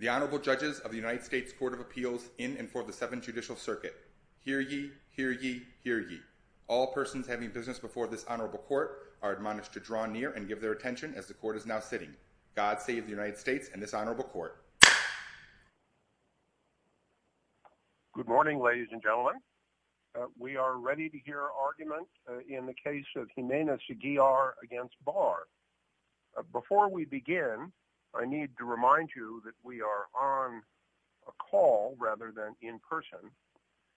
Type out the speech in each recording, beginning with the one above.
The Honorable Judges of the United States Court of Appeals in and for the Seventh Judicial Circuit. Hear ye, hear ye, hear ye. All persons having business before this honorable court are admonished to draw near and give their attention as the court is now sitting. God save the United States and this honorable court. Good morning ladies and gentlemen. We are ready to hear argument in the case of Jimenez-Aguilar against Barr. Before we begin, I need to remind you that we are on a call rather than in person,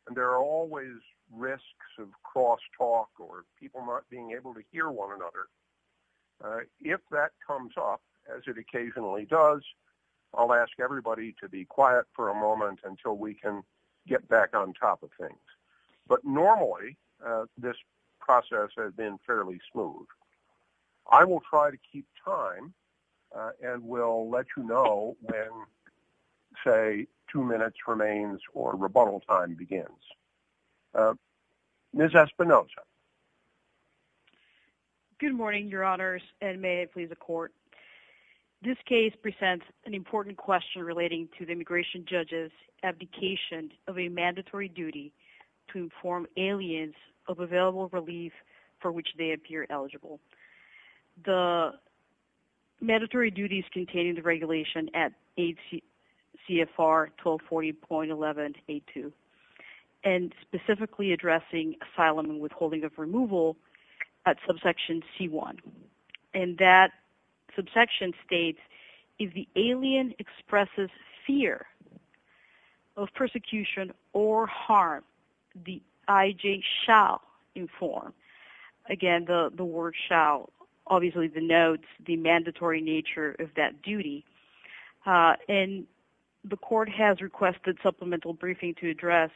and there are always risks of cross-talk or people not being able to hear one another. If that comes up, as it occasionally does, I'll ask everybody to be quiet for a moment until we can get back on top of things. But normally, this process has been fairly smooth. I will try to keep time and will let you know when, say, two minutes remains or rebuttal time begins. Ms. Espinosa. Good morning, your honors, and may it please the court. This case presents an important question relating to the immigration judge's abdication of a mandatory duty to inform aliens of available relief for which they appear eligible. The mandatory duty is contained in the regulation at 8 CFR 1240.11A2 and specifically addressing asylum and withholding of removal at subsection C1. And that subsection states, if the alien expresses fear of persecution or harm, the I.J. shall inform. Again, the word shall obviously denotes the mandatory nature of that duty, and the court has requested supplemental briefing to address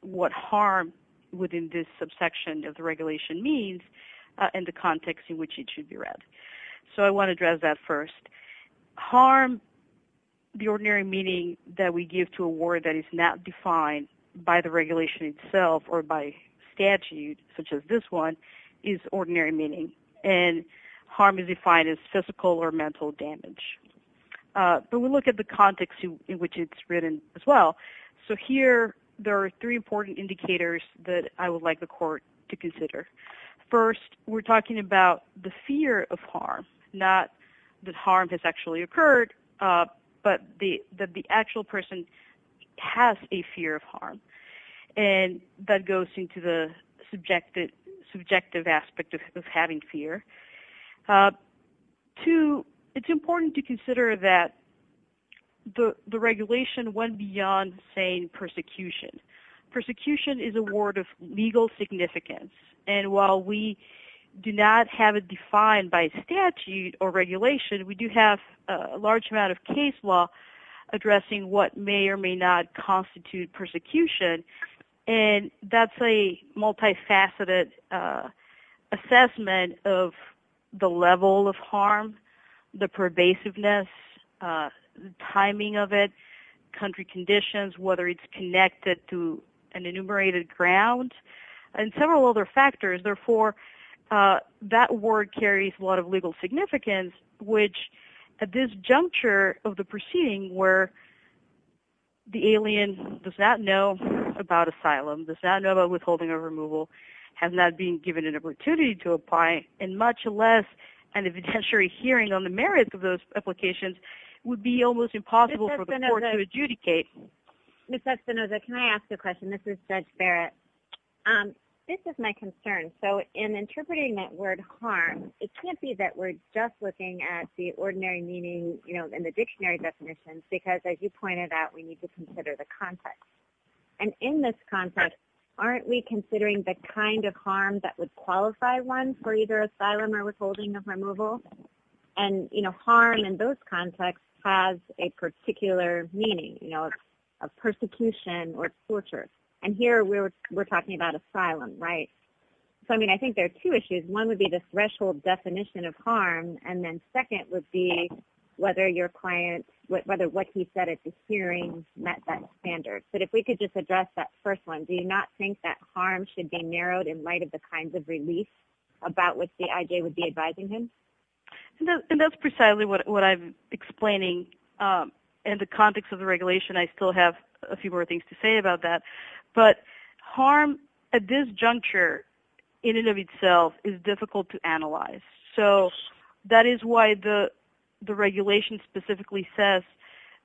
what harm within this subsection of the regulation means and the context in which it should be read. So I want to address that first. Harm, the ordinary meaning that we give to a word that is not defined by the regulation itself or by statute, such as this one, is ordinary meaning. And harm is defined as physical or mental damage. But we look at the context in which it's written as well. So here there are three important indicators that I would like the court to consider. First, we're talking about the fear of harm, not that harm has actually occurred, but that the actual person has a fear of harm. And that goes into the subjective aspect of having fear. Two, it's important to consider that the regulation went beyond saying persecution. Persecution is a word of legal significance. And while we do not have it defined by statute or regulation, we do have a large amount of case law addressing what may or may not constitute persecution. And that's a multifaceted assessment of the level of harm, the pervasiveness, the timing of it, country conditions, whether it's connected to an enumerated ground, and several other factors. Therefore, that word carries a lot of legal significance, which at this juncture of the proceeding, where the alien does not know about asylum, does not know about withholding or removal, has not been given an opportunity to apply, and much less an evidentiary hearing on the merits of those applications would be almost impossible for the court to adjudicate. Ms. Espinoza, can I ask a question? This is Judge Barrett. This is my concern. So in interpreting that word harm, it can't be that we're just looking at the ordinary meaning, you know, in the dictionary definitions, because as you pointed out, we need to consider the context. And in this context, aren't we considering the kind of harm that would qualify one for either asylum or withholding of removal? And you know, harm in those contexts has a particular meaning, you know, of persecution or torture. And here we're talking about asylum, right? So I mean, I think there are two issues. One would be the threshold definition of harm, and then second would be whether your client – whether what he said at the hearing met that standard. But if we could just address that first one, do you not think that harm should be narrowed in light of the kinds of relief about which the IJ would be advising him? And that's precisely what I'm explaining. In the context of the regulation, I still have a few more things to say about that. But harm at this juncture in and of itself is difficult to analyze. So that is why the regulation specifically says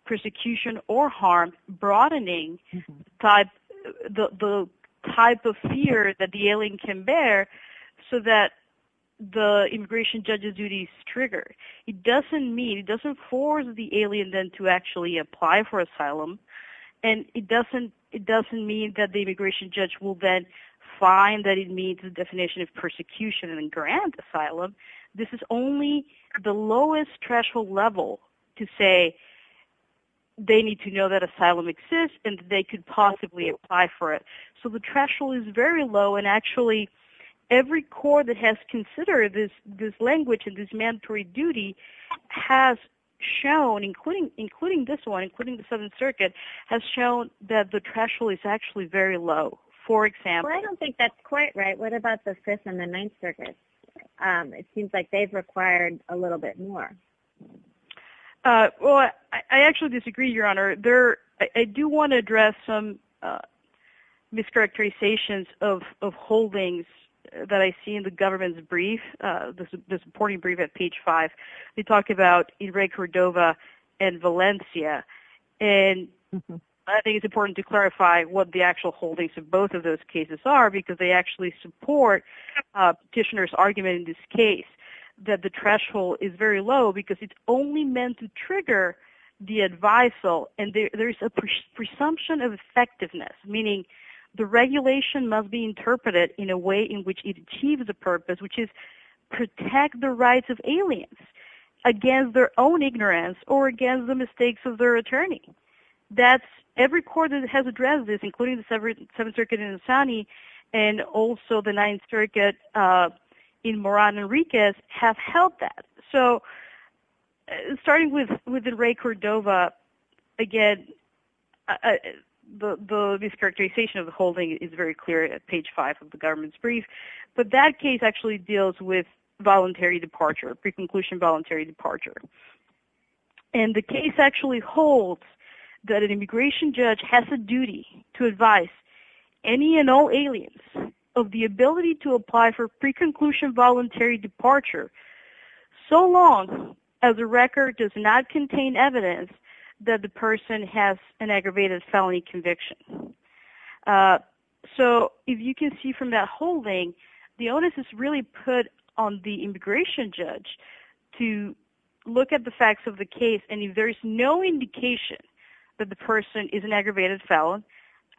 persecution or harm broadening type – the type of fear that the alien can bear so that the immigration judge's duties trigger. It doesn't mean – it doesn't force the alien then to actually apply for asylum. And it doesn't mean that the immigration judge will then find that it meets the definition of persecution and then grant asylum. This is only the lowest threshold level to say they need to know that asylum exists and they could possibly apply for it. So the threshold is very low. And actually, every court that has considered this language and this mandatory duty has shown, including this one, including the Southern Circuit, has shown that the threshold is actually very low. For example – Well, I don't think that's quite right. What about the Fifth and the Ninth Circuit? It seems like they've required a little bit more. Well, I actually disagree, Your Honor. I do want to address some mischaracterizations of holdings that I see in the government's brief, the supporting brief at page 5. They talk about Enrique Cordova and Valencia. And I think it's important to clarify what the actual holdings of both of those cases are because they actually support Kishner's argument in this case that the threshold is very low because it's only meant to trigger the advisal. And there's a presumption of effectiveness, meaning the regulation must be interpreted in a way in which it achieves the purpose, which is protect the rights of aliens. Again, their own ignorance or, again, the mistakes of their attorney. That's – every court that has addressed this, including the Seventh Circuit in Asani and also the Ninth Circuit in Moran Enriquez, have held that. So starting with Enrique Cordova, again, the mischaracterization of the holding is very clear at page 5 of the government's brief. But that case actually deals with voluntary departure, pre-conclusion voluntary departure. And the case actually holds that an immigration judge has a duty to advise any and all aliens of the ability to apply for pre-conclusion voluntary departure so long as the record does not contain evidence that the person has an aggravated felony conviction. So if you can see from that holding, the onus is really put on the immigration judge to look at the facts of the case. And if there's no indication that the person is an aggravated felon,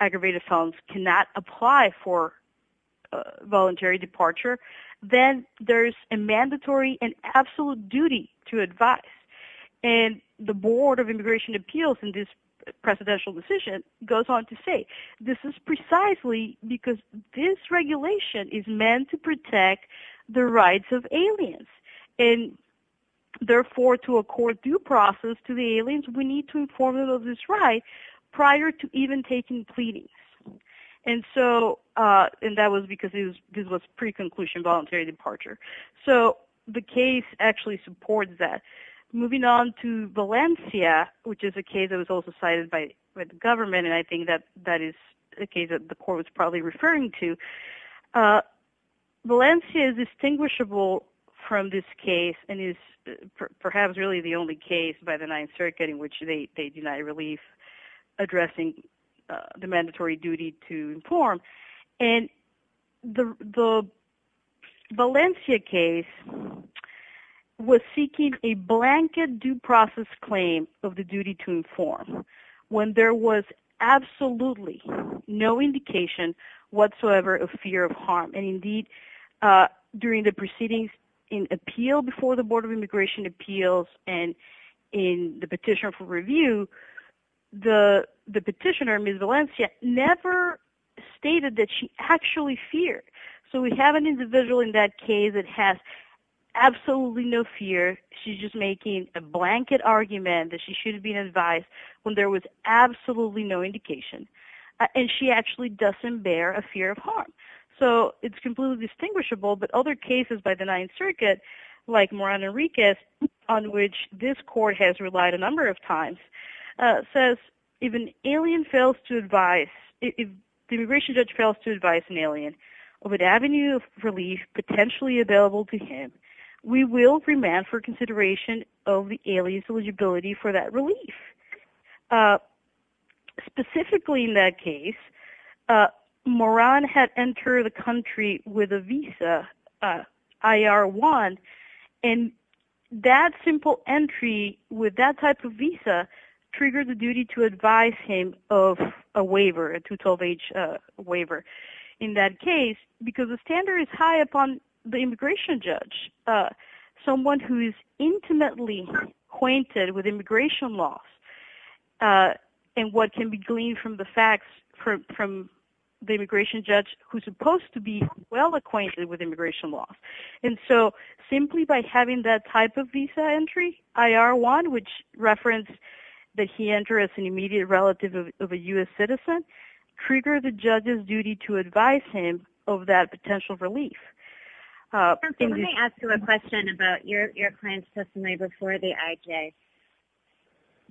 aggravated felons cannot apply for voluntary departure, then there's a mandatory and absolute duty to advise. And the Board of Immigration Appeals in this presidential decision goes on to say this is precisely because this regulation is meant to protect the rights of aliens. And therefore, to accord due process to the aliens, we need to inform them of this right prior to even taking pleadings. And so – and that was because this was pre-conclusion voluntary departure. So the case actually supports that. Moving on to Valencia, which is a case that was also cited by the government, and I think that that is a case that the court was probably referring to. Valencia is distinguishable from this case and is perhaps really the only case by the Ninth Circuit in which they deny relief addressing the mandatory duty to inform. And the Valencia case was seeking a blanket due process claim of the duty to inform when there was absolutely no indication whatsoever of fear of harm. And indeed, during the proceedings in appeal before the Board of Immigration Appeals and in the petition for review, the petitioner, Ms. Valencia, never stated that she actually feared. So we have an individual in that case that has absolutely no fear. She's just making a blanket argument that she should have been advised when there was absolutely no indication. And she actually doesn't bear a fear of harm. So it's completely distinguishable. But other cases by the Ninth Circuit, like Moran Enriquez, on which this court has relied a number of times, says, if an alien fails to advise, if the immigration judge fails to advise an alien of an avenue of relief potentially available to him, we will remand for consideration of the alien's eligibility for that relief. Specifically in that case, Moran had entered the country with a visa, IR-1, and that simple entry with that type of visa triggered the duty to advise him of a waiver, a 212-H waiver in that case, because the standard is high upon the immigration judge, someone who is well-acquainted with immigration law, and what can be gleaned from the facts from the immigration judge who's supposed to be well-acquainted with immigration law. And so simply by having that type of visa entry, IR-1, which referenced that he entered as an immediate relative of a U.S. citizen, triggered the judge's duty to advise him of that potential relief. Let me ask you a question about your client's testimony before the IJ.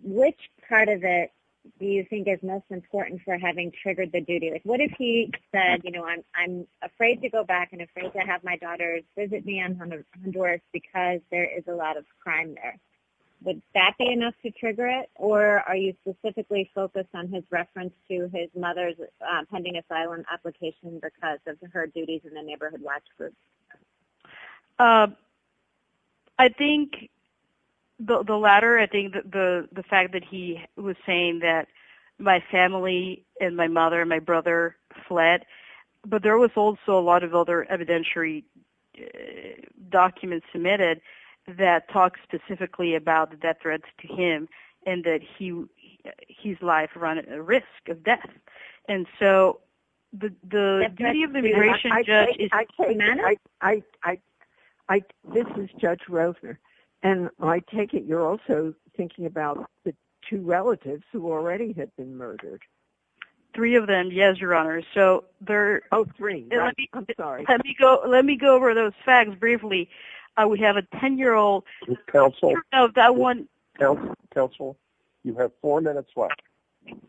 Which part of it do you think is most important for having triggered the duty? What if he said, you know, I'm afraid to go back and afraid to have my daughters visit me in Honduras because there is a lot of crime there? Would that be enough to trigger it, or are you specifically focused on his reference to his mother's pending asylum application because of her duties in the neighborhood like this? I think the latter. I think the fact that he was saying that my family and my mother and my brother fled, but there was also a lot of other evidentiary documents submitted that talk specifically about the death threats to him and that his life run at risk of death. And so the duty of the immigration judge is... This is Judge Rosner. And I take it you're also thinking about the two relatives who already had been murdered. Three of them. Yes, Your Honor. So they're... Oh, three. Let me go over those facts briefly. I would have a 10-year-old... Counsel, you have four minutes left.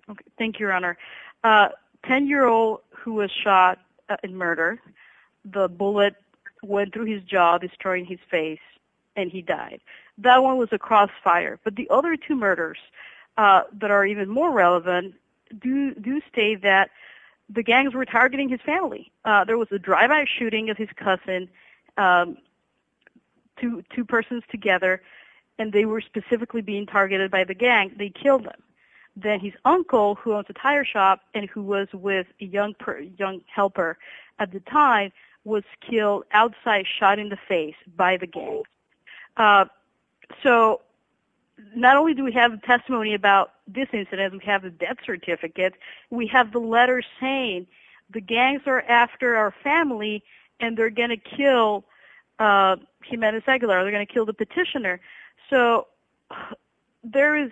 Okay. Thank you, Your Honor. 10-year-old who was shot and murdered, the bullet went through his jaw, destroying his face, and he died. That one was a crossfire. But the other two murders that are even more relevant do state that the gangs were targeting his family. There was a drive-by shooting of his cousin, two persons together, and they were specifically being targeted by the gang. They killed him. Then his uncle, who owns a tire shop and who was with a young helper at the time, was killed outside, shot in the face by the gang. So not only do we have a testimony about this incident, we have a death certificate. We have the letter saying the gangs are after our family and they're gonna kill Jimenez Aguilar. They're gonna kill the petitioner. So there is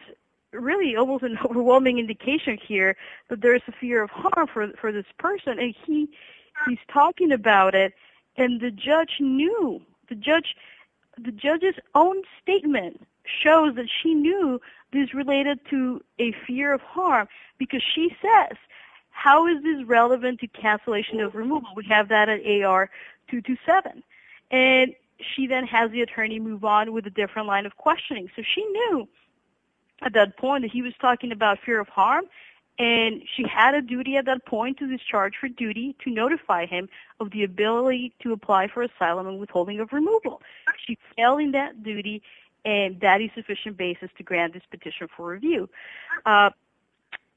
really almost an overwhelming indication here that there is a fear of harm for this person, and he's talking about it, and the judge knew. The judge's own statement shows that she knew this related to a fear of harm because she says, how is this relevant to cancellation of removal? We have that at AR 227. And she then has the attorney move on with a different line of questioning. So she knew at that point that he was talking about fear of harm, and she had a duty at that point to discharge for duty to notify him of the ability to apply for asylum and withholding of removal. She's failing that duty, and that is sufficient basis to grant this petition for review.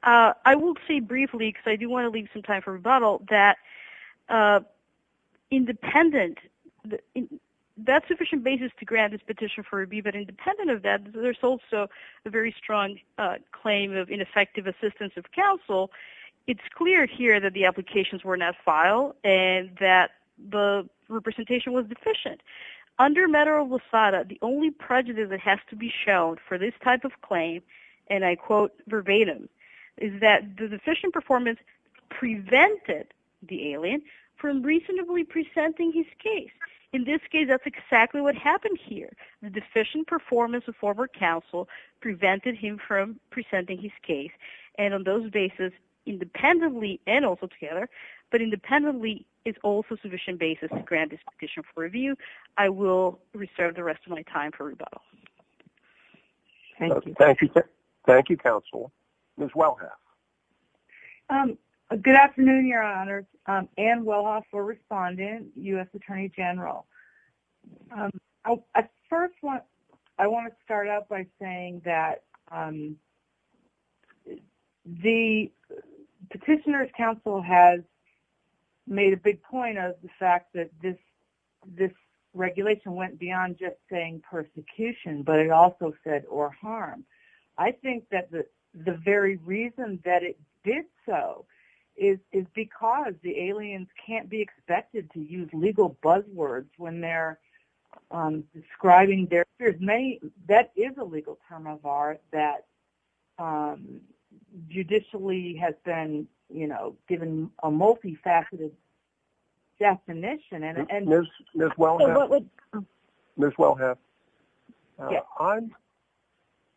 I will say briefly, because I do want to leave some time for rebuttal, that independent, that's sufficient basis to grant this petition for review. But independent of that, there's also a very strong claim of ineffective assistance of counsel. It's clear here that the applications were not filed and that the representation was deficient. Under matter of LOSADA, the only prejudice that has to be showed for this type of claim, and I quote verbatim, is that the deficient performance prevented the alien from reasonably presenting his case. In this case, that's exactly what happened here. The deficient performance of former counsel prevented him from presenting his case. And on those basis, independently and also together, but independently, it's also sufficient basis to grant this petition for review. I will reserve the rest of my time for rebuttal. Thank you. Thank you, counsel. Ms. Wellhoff. Good afternoon, your honors. Ann Wellhoff, a respondent, U.S. Attorney General. I first want to start out by saying that the petitioner's counsel has made a big point of the fact that this regulation went beyond just saying persecution, but it also said or harm. I think that the very reason that it did so is because the aliens can't be expected to use legal buzzwords when they're describing their case. That is a legal term of art that judicially has been, you know, given a multifaceted definition. Ms. Wellhoff,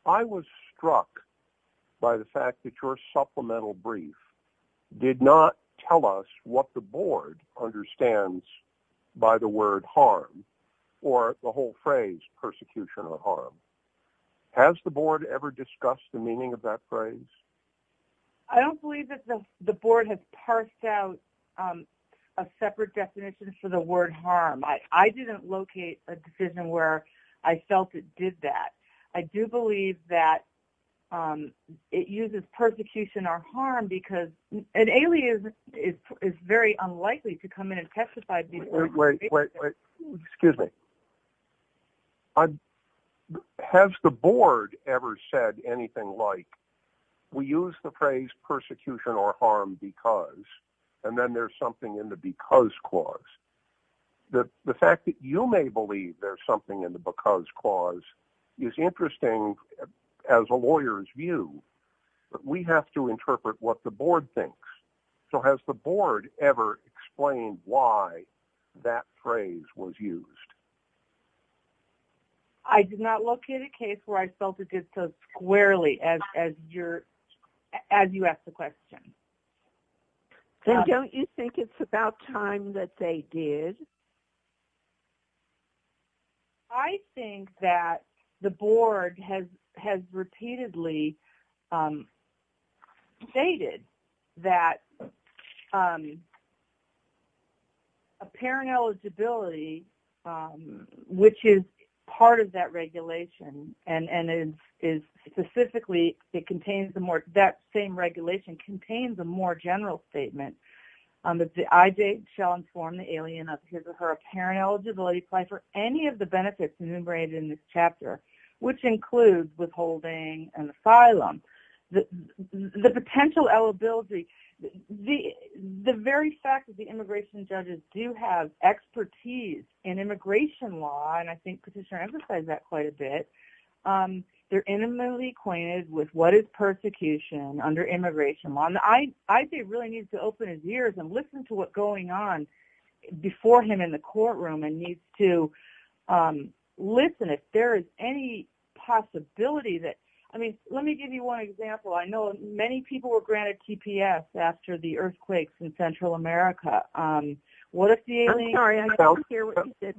I was struck by the fact that your supplemental brief did not tell us what the board understands by the word harm or the whole phrase persecution or harm. Has the board ever discussed the meaning of that phrase? I don't believe that the board has parsed out a separate definition for the word harm. I didn't locate a decision where I felt it did that. I do believe that it uses persecution or harm because an alien is very unlikely to come in and testify. Wait, wait, wait, excuse me. Has the board ever said anything like, we use the phrase persecution or harm because, and then there's something in the because clause. The fact that you may believe there's something in the because clause is interesting as a lawyer's view, but we have to interpret what the board thinks. So has the board ever explained why that phrase was used? I did not locate a case where I felt it did so squarely as you asked the question. Then don't you think it's about time that they did? I think that the board has repeatedly stated that a parent eligibility, which is part of that regulation and is specifically, it contains that same regulation, contains a more general statement that I shall inform the alien of his or her apparent eligibility, apply for any of the benefits enumerated in this chapter, which includes withholding and asylum. The potential eligibility, the very fact that the immigration judges do have expertise in immigration law, and I think Patricia emphasized that quite a bit, they're intimately acquainted with what is persecution under immigration law. I think he really needs to open his ears and listen to what's going on before him in the courtroom and needs to listen if there is any possibility that, I mean, let me give you one example. I know many people were granted TPS after the earthquakes in Central America. I'm sorry, I didn't hear what you said.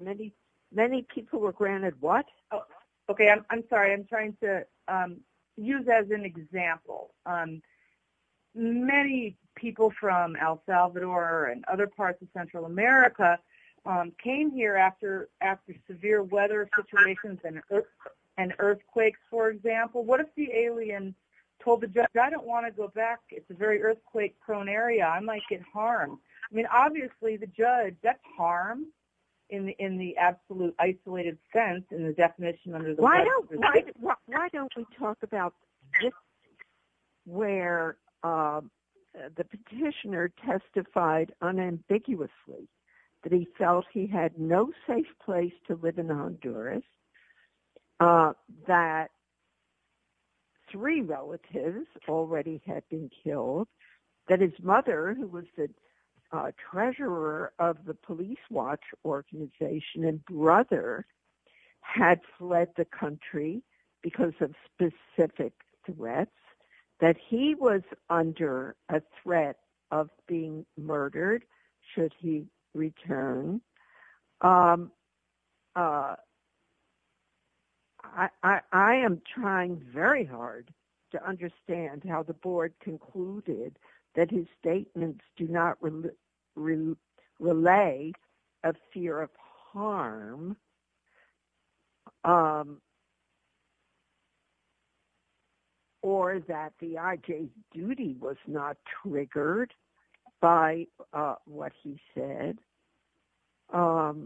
Many people were granted what? Okay, I'm sorry. I'm trying to use that as an example. Many people from El Salvador and other parts of Central America came here after severe weather situations and earthquakes, for example. What if the alien told the judge, I don't want to go back. It's a very earthquake-prone area. I might get harmed. I mean, obviously, the judge, that's harm in the absolute isolated sense in the definition under the law. Why don't we talk about where the petitioner testified unambiguously that he felt he had no safe place to live in Honduras, that three relatives already had been killed, that his the country because of specific threats, that he was under a threat of being murdered should he return. I am trying very hard to understand how the board concluded that his statements do not reflect the facts, or that the IJ's duty was not triggered by what he said. I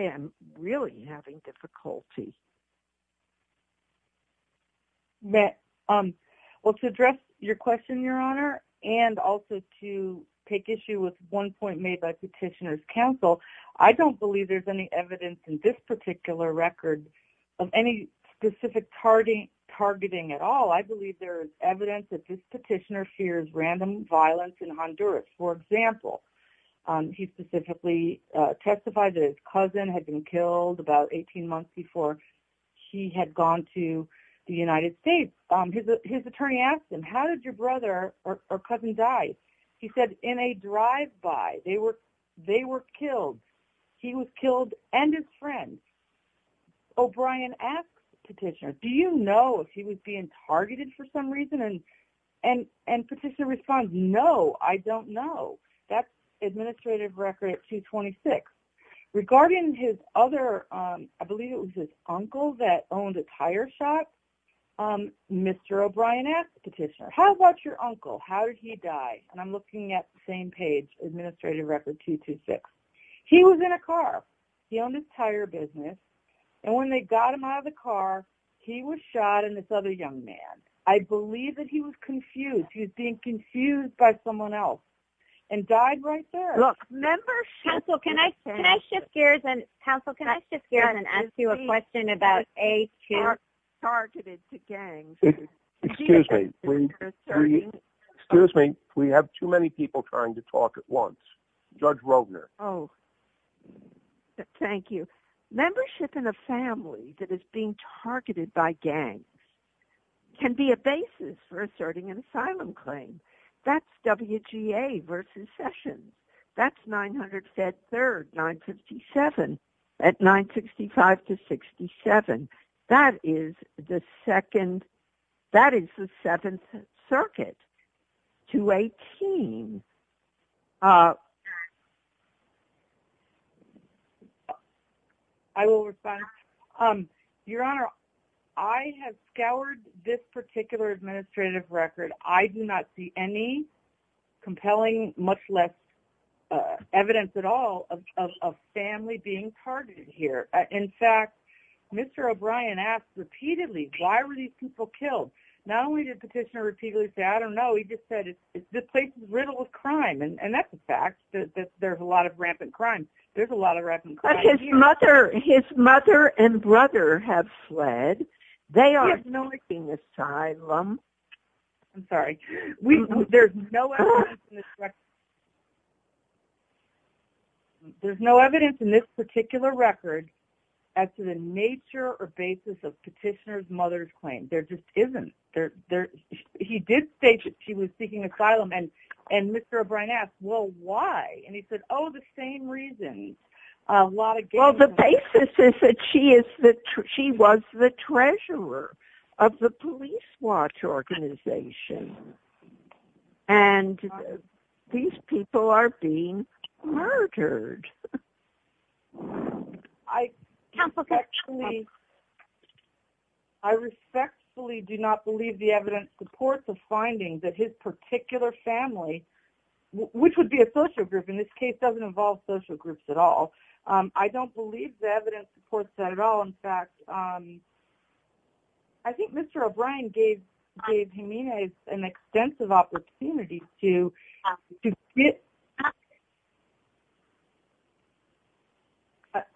am really having difficulty. Well, to address your question, Your Honor, and also to take issue with one point made by petitioner's counsel, I don't believe there's any evidence in this particular record of any specific targeting at all. I believe there is evidence that this petitioner fears random violence in Honduras. For example, he specifically testified that his cousin had been killed about 18 months before he had gone to the United States. His attorney asked him, how did your brother or cousin die? He said, in a drive-by. They were killed. He was killed and his friends. O'Brien asked the petitioner, do you know if he was being targeted for some reason? And petitioner responds, no, I don't know. That's administrative record 226. Regarding his other, I believe it was his uncle that owned a tire shop, Mr. O'Brien asked the petitioner, how about your uncle? How did he die? I'm looking at the same page, administrative record 226. He was in a car. He owned a tire business. And when they got him out of the car, he was shot and this other young man. I believe that he was confused. He was being confused by someone else. And died right there. Look, members. Counsel, can I shift gears and counsel, can I shift gears and ask you a question about a targeted to gangs? Excuse me. Excuse me. We have too many people trying to talk at once. Judge Rogner. Oh, thank you. Membership in a family that is being targeted by gangs can be a basis for asserting an asylum claim. That's WGA versus session. That's 900 Fed Third 957 at 965 to 67. That is the second. That is the Seventh Circuit. 218. I will respond. Your Honor, I have scoured this particular administrative record. I do not see any compelling, much less evidence at all of family being targeted here. In fact, Mr. O'Brien asked repeatedly, why were these people killed? Not only did the petitioner repeatedly say, I don't know. He just said, this place is riddled with crime. And that's a fact. There's a lot of rampant crime. There's a lot of rampant crime. But his mother and brother have fled. They are seeking asylum. I'm sorry. There's no evidence in this record. As to the nature or basis of petitioner's mother's claim. There just isn't. He did say she was seeking asylum. And Mr. O'Brien asked, well, why? And he said, oh, the same reason. A lot of gangs. Well, the basis is that she was the treasurer of the police watch organization. And these people are being murdered. I respectfully do not believe the evidence supports the finding that his particular family, which would be a social group, in this case, doesn't involve social groups at all. I don't believe the evidence supports that at all. In fact, I think Mr. O'Brien gave Jimenez an extensive opportunity to get out.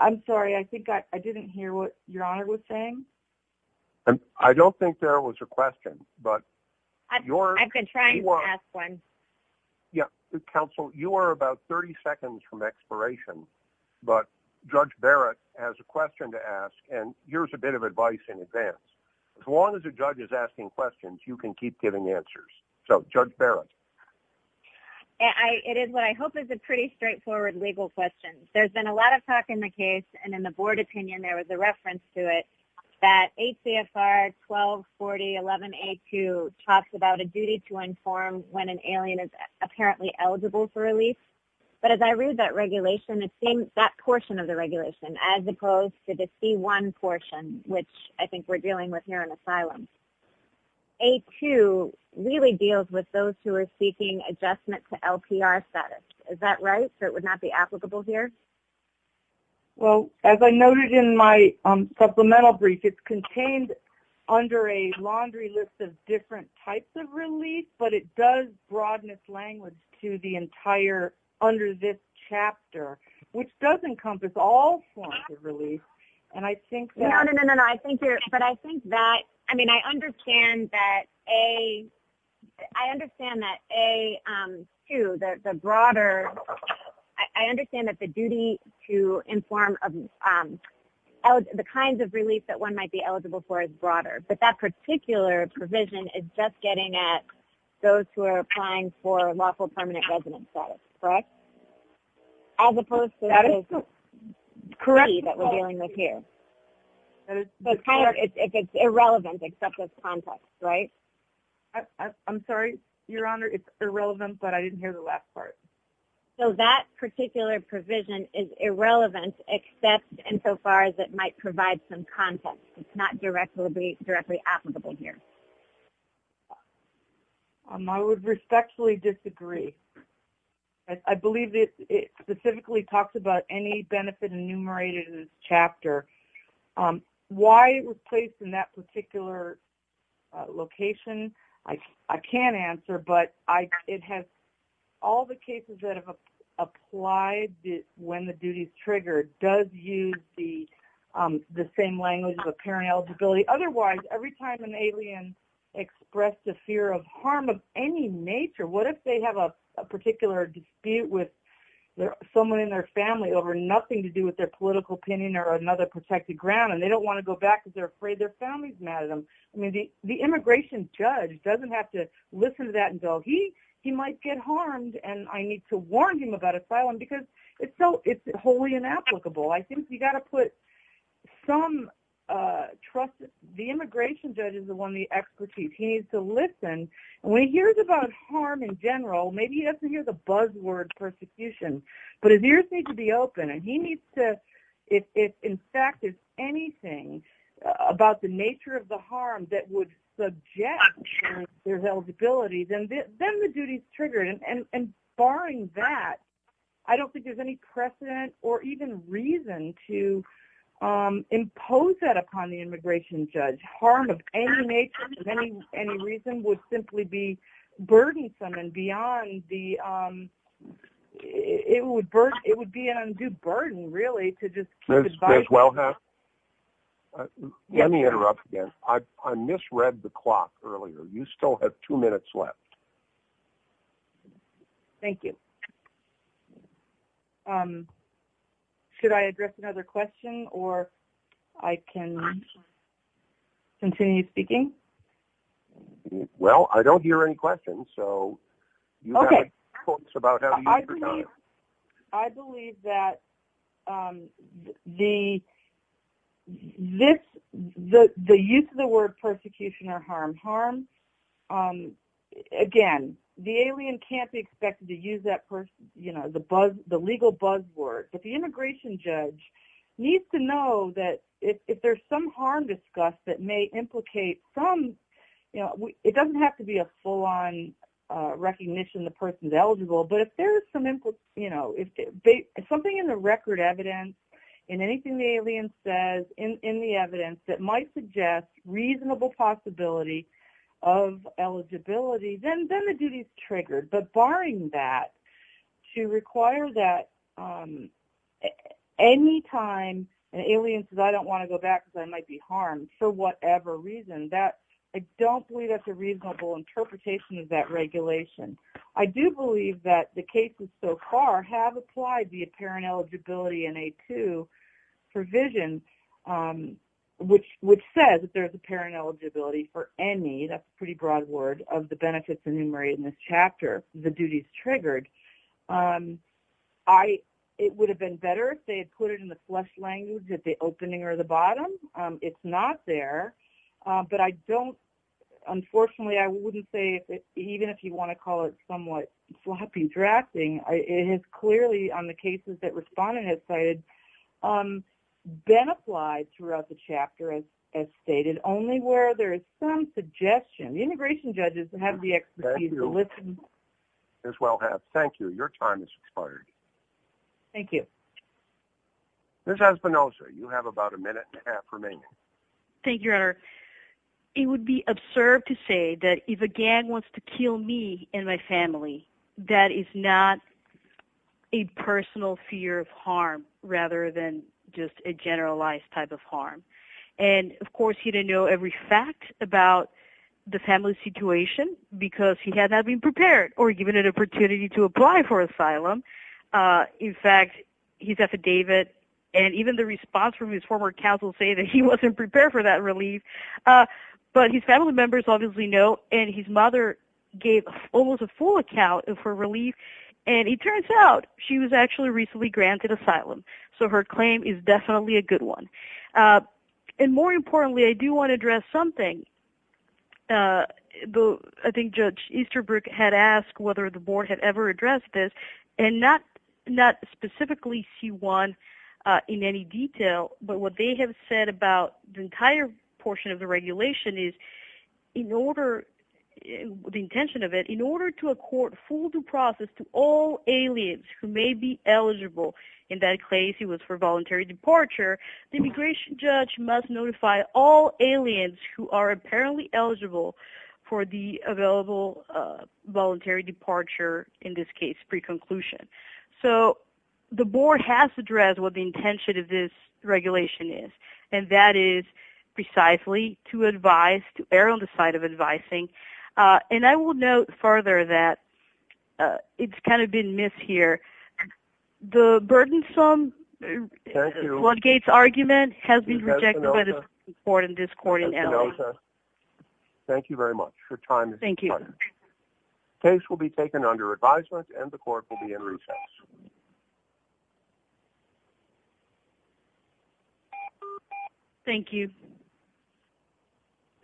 I'm sorry. I think I didn't hear what your honor was saying. I don't think there was a question. But I've been trying to ask one. Yeah. Counsel, you are about 30 seconds from expiration. But Judge Barrett has a question to ask. And here's a bit of advice in advance. As long as a judge is asking questions, you can keep giving answers. So Judge Barrett. It is what I hope is a pretty straightforward legal question. There's been a lot of talk in the case. And in the board opinion, there was a reference to it that ACFR 124011A2 talks about a duty to inform when an alien is apparently eligible for release. But as I read that regulation, it seems that portion of the regulation, as opposed to the C1 portion, which I think we're dealing with here in asylum, A2 really deals with those who are seeking adjustment to LPR status. Is that right? So it would not be applicable here? Well, as I noted in my supplemental brief, it's contained under a laundry list of different types of release. But it does broadness language to the entire under this chapter, which does encompass all forms of release. And I think that... No, no, no, no, no. I think you're... I mean, I understand that A2, the broader... I understand that the duty to inform the kinds of release that one might be eligible for is broader. But that particular provision is just getting at those who are applying for lawful permanent residence status, correct? As opposed to the C that we're dealing with here. It's irrelevant, except with context, right? I'm sorry, Your Honor, it's irrelevant, but I didn't hear the last part. So that particular provision is irrelevant, except in so far as it might provide some context. It's not directly applicable here. I would respectfully disagree. I believe that it specifically talks about any benefit enumerated in this chapter. Why it was placed in that particular location, I can't answer, but it has all the cases that have applied when the duty is triggered does use the same language of apparent eligibility. Otherwise, every time an alien expressed a fear of harm of any nature, what if they have a particular dispute with someone in their family over nothing to do with their political opinion or another protected ground, and they don't want to go back because they're afraid their family's mad at them. I mean, the immigration judge doesn't have to listen to that and go, he might get harmed and I need to warn him about asylum because it's wholly inapplicable. I think you got to put some trust... The immigration judge is the one, the expertise. He needs to listen. When he hears about harm in general, maybe he doesn't hear the buzzword persecution, but his ears need to be open and he needs to... If in fact, there's anything about the nature of the harm that would subject their eligibility, then the duty is triggered and barring that, I don't think there's any precedent or even reason to impose that upon the immigration judge. Harm of any nature, of any reason, would simply be burdensome and beyond the... It would be an undue burden really to just keep advising... Ms. Wilhelm? Let me interrupt again. I misread the clock earlier. You still have two minutes left. Thank you. Should I address another question or I can... Continue speaking? Well, I don't hear any questions, so... Okay. I believe that the use of the word persecution or harm, harm... Again, the alien can't be expected to use the legal buzzword, but the immigration judge needs to know that if there's some harm discussed that may implicate some... It doesn't have to be a full-on recognition the person's eligible, but if there's some... Something in the record evidence, in anything the alien says in the evidence that might suggest reasonable possibility of eligibility, then the duty is triggered. But barring that, to require that any time an alien says, I don't want to go back because I might be harmed for whatever reason, that I don't believe that's a reasonable interpretation of that regulation. I do believe that the cases so far have applied the apparent eligibility in A2 provision, which says that there's apparent eligibility for any, that's a pretty broad word, of the benefits enumerated in this chapter. The duty is triggered. It would have been better if they had put it in the flesh language at the opening or the bottom. It's not there, but I don't... Unfortunately, I wouldn't say, even if you want to call it somewhat floppy drafting, it is clearly on the cases that respondent has cited, been applied throughout the chapter as stated, only where there is some suggestion. The integration judges have the expertise to listen. As well have. Thank you. Your time has expired. Thank you. Ms. Espinosa, you have about a minute and a half remaining. Thank you, Your Honor. It would be absurd to say that if a gang wants to kill me and my family, that is not a personal fear of harm, rather than just a generalized type of harm. Of course, he didn't know every fact about the family situation because he had not been prepared or given an opportunity to apply for asylum. In fact, his affidavit and even the response from his former counsel say that he wasn't prepared for that relief, but his family members obviously know and his mother gave almost a full account for relief. It turns out she was actually recently granted asylum, so her claim is definitely a good one. And more importantly, I do want to address something. I think Judge Easterbrook had asked whether the board had ever addressed this and not specifically see one in any detail, but what they have said about the entire portion of the regulation is in order, the intention of it, in order to accord full due process to all aliens who may be eligible, in that case it was for voluntary departure, the immigration judge must notify all aliens who are apparently eligible for the available voluntary departure, in this case, pre-conclusion. So the board has addressed what the intention of this regulation is, and that is precisely to advise, to err on the side of advising, and I will note further that it's kind of been missed here. The burdensome floodgates argument has been rejected by this court and this court in LA. Thank you very much for your time. Thank you. Case will be taken under advisement and the court will be in recess. Thank you.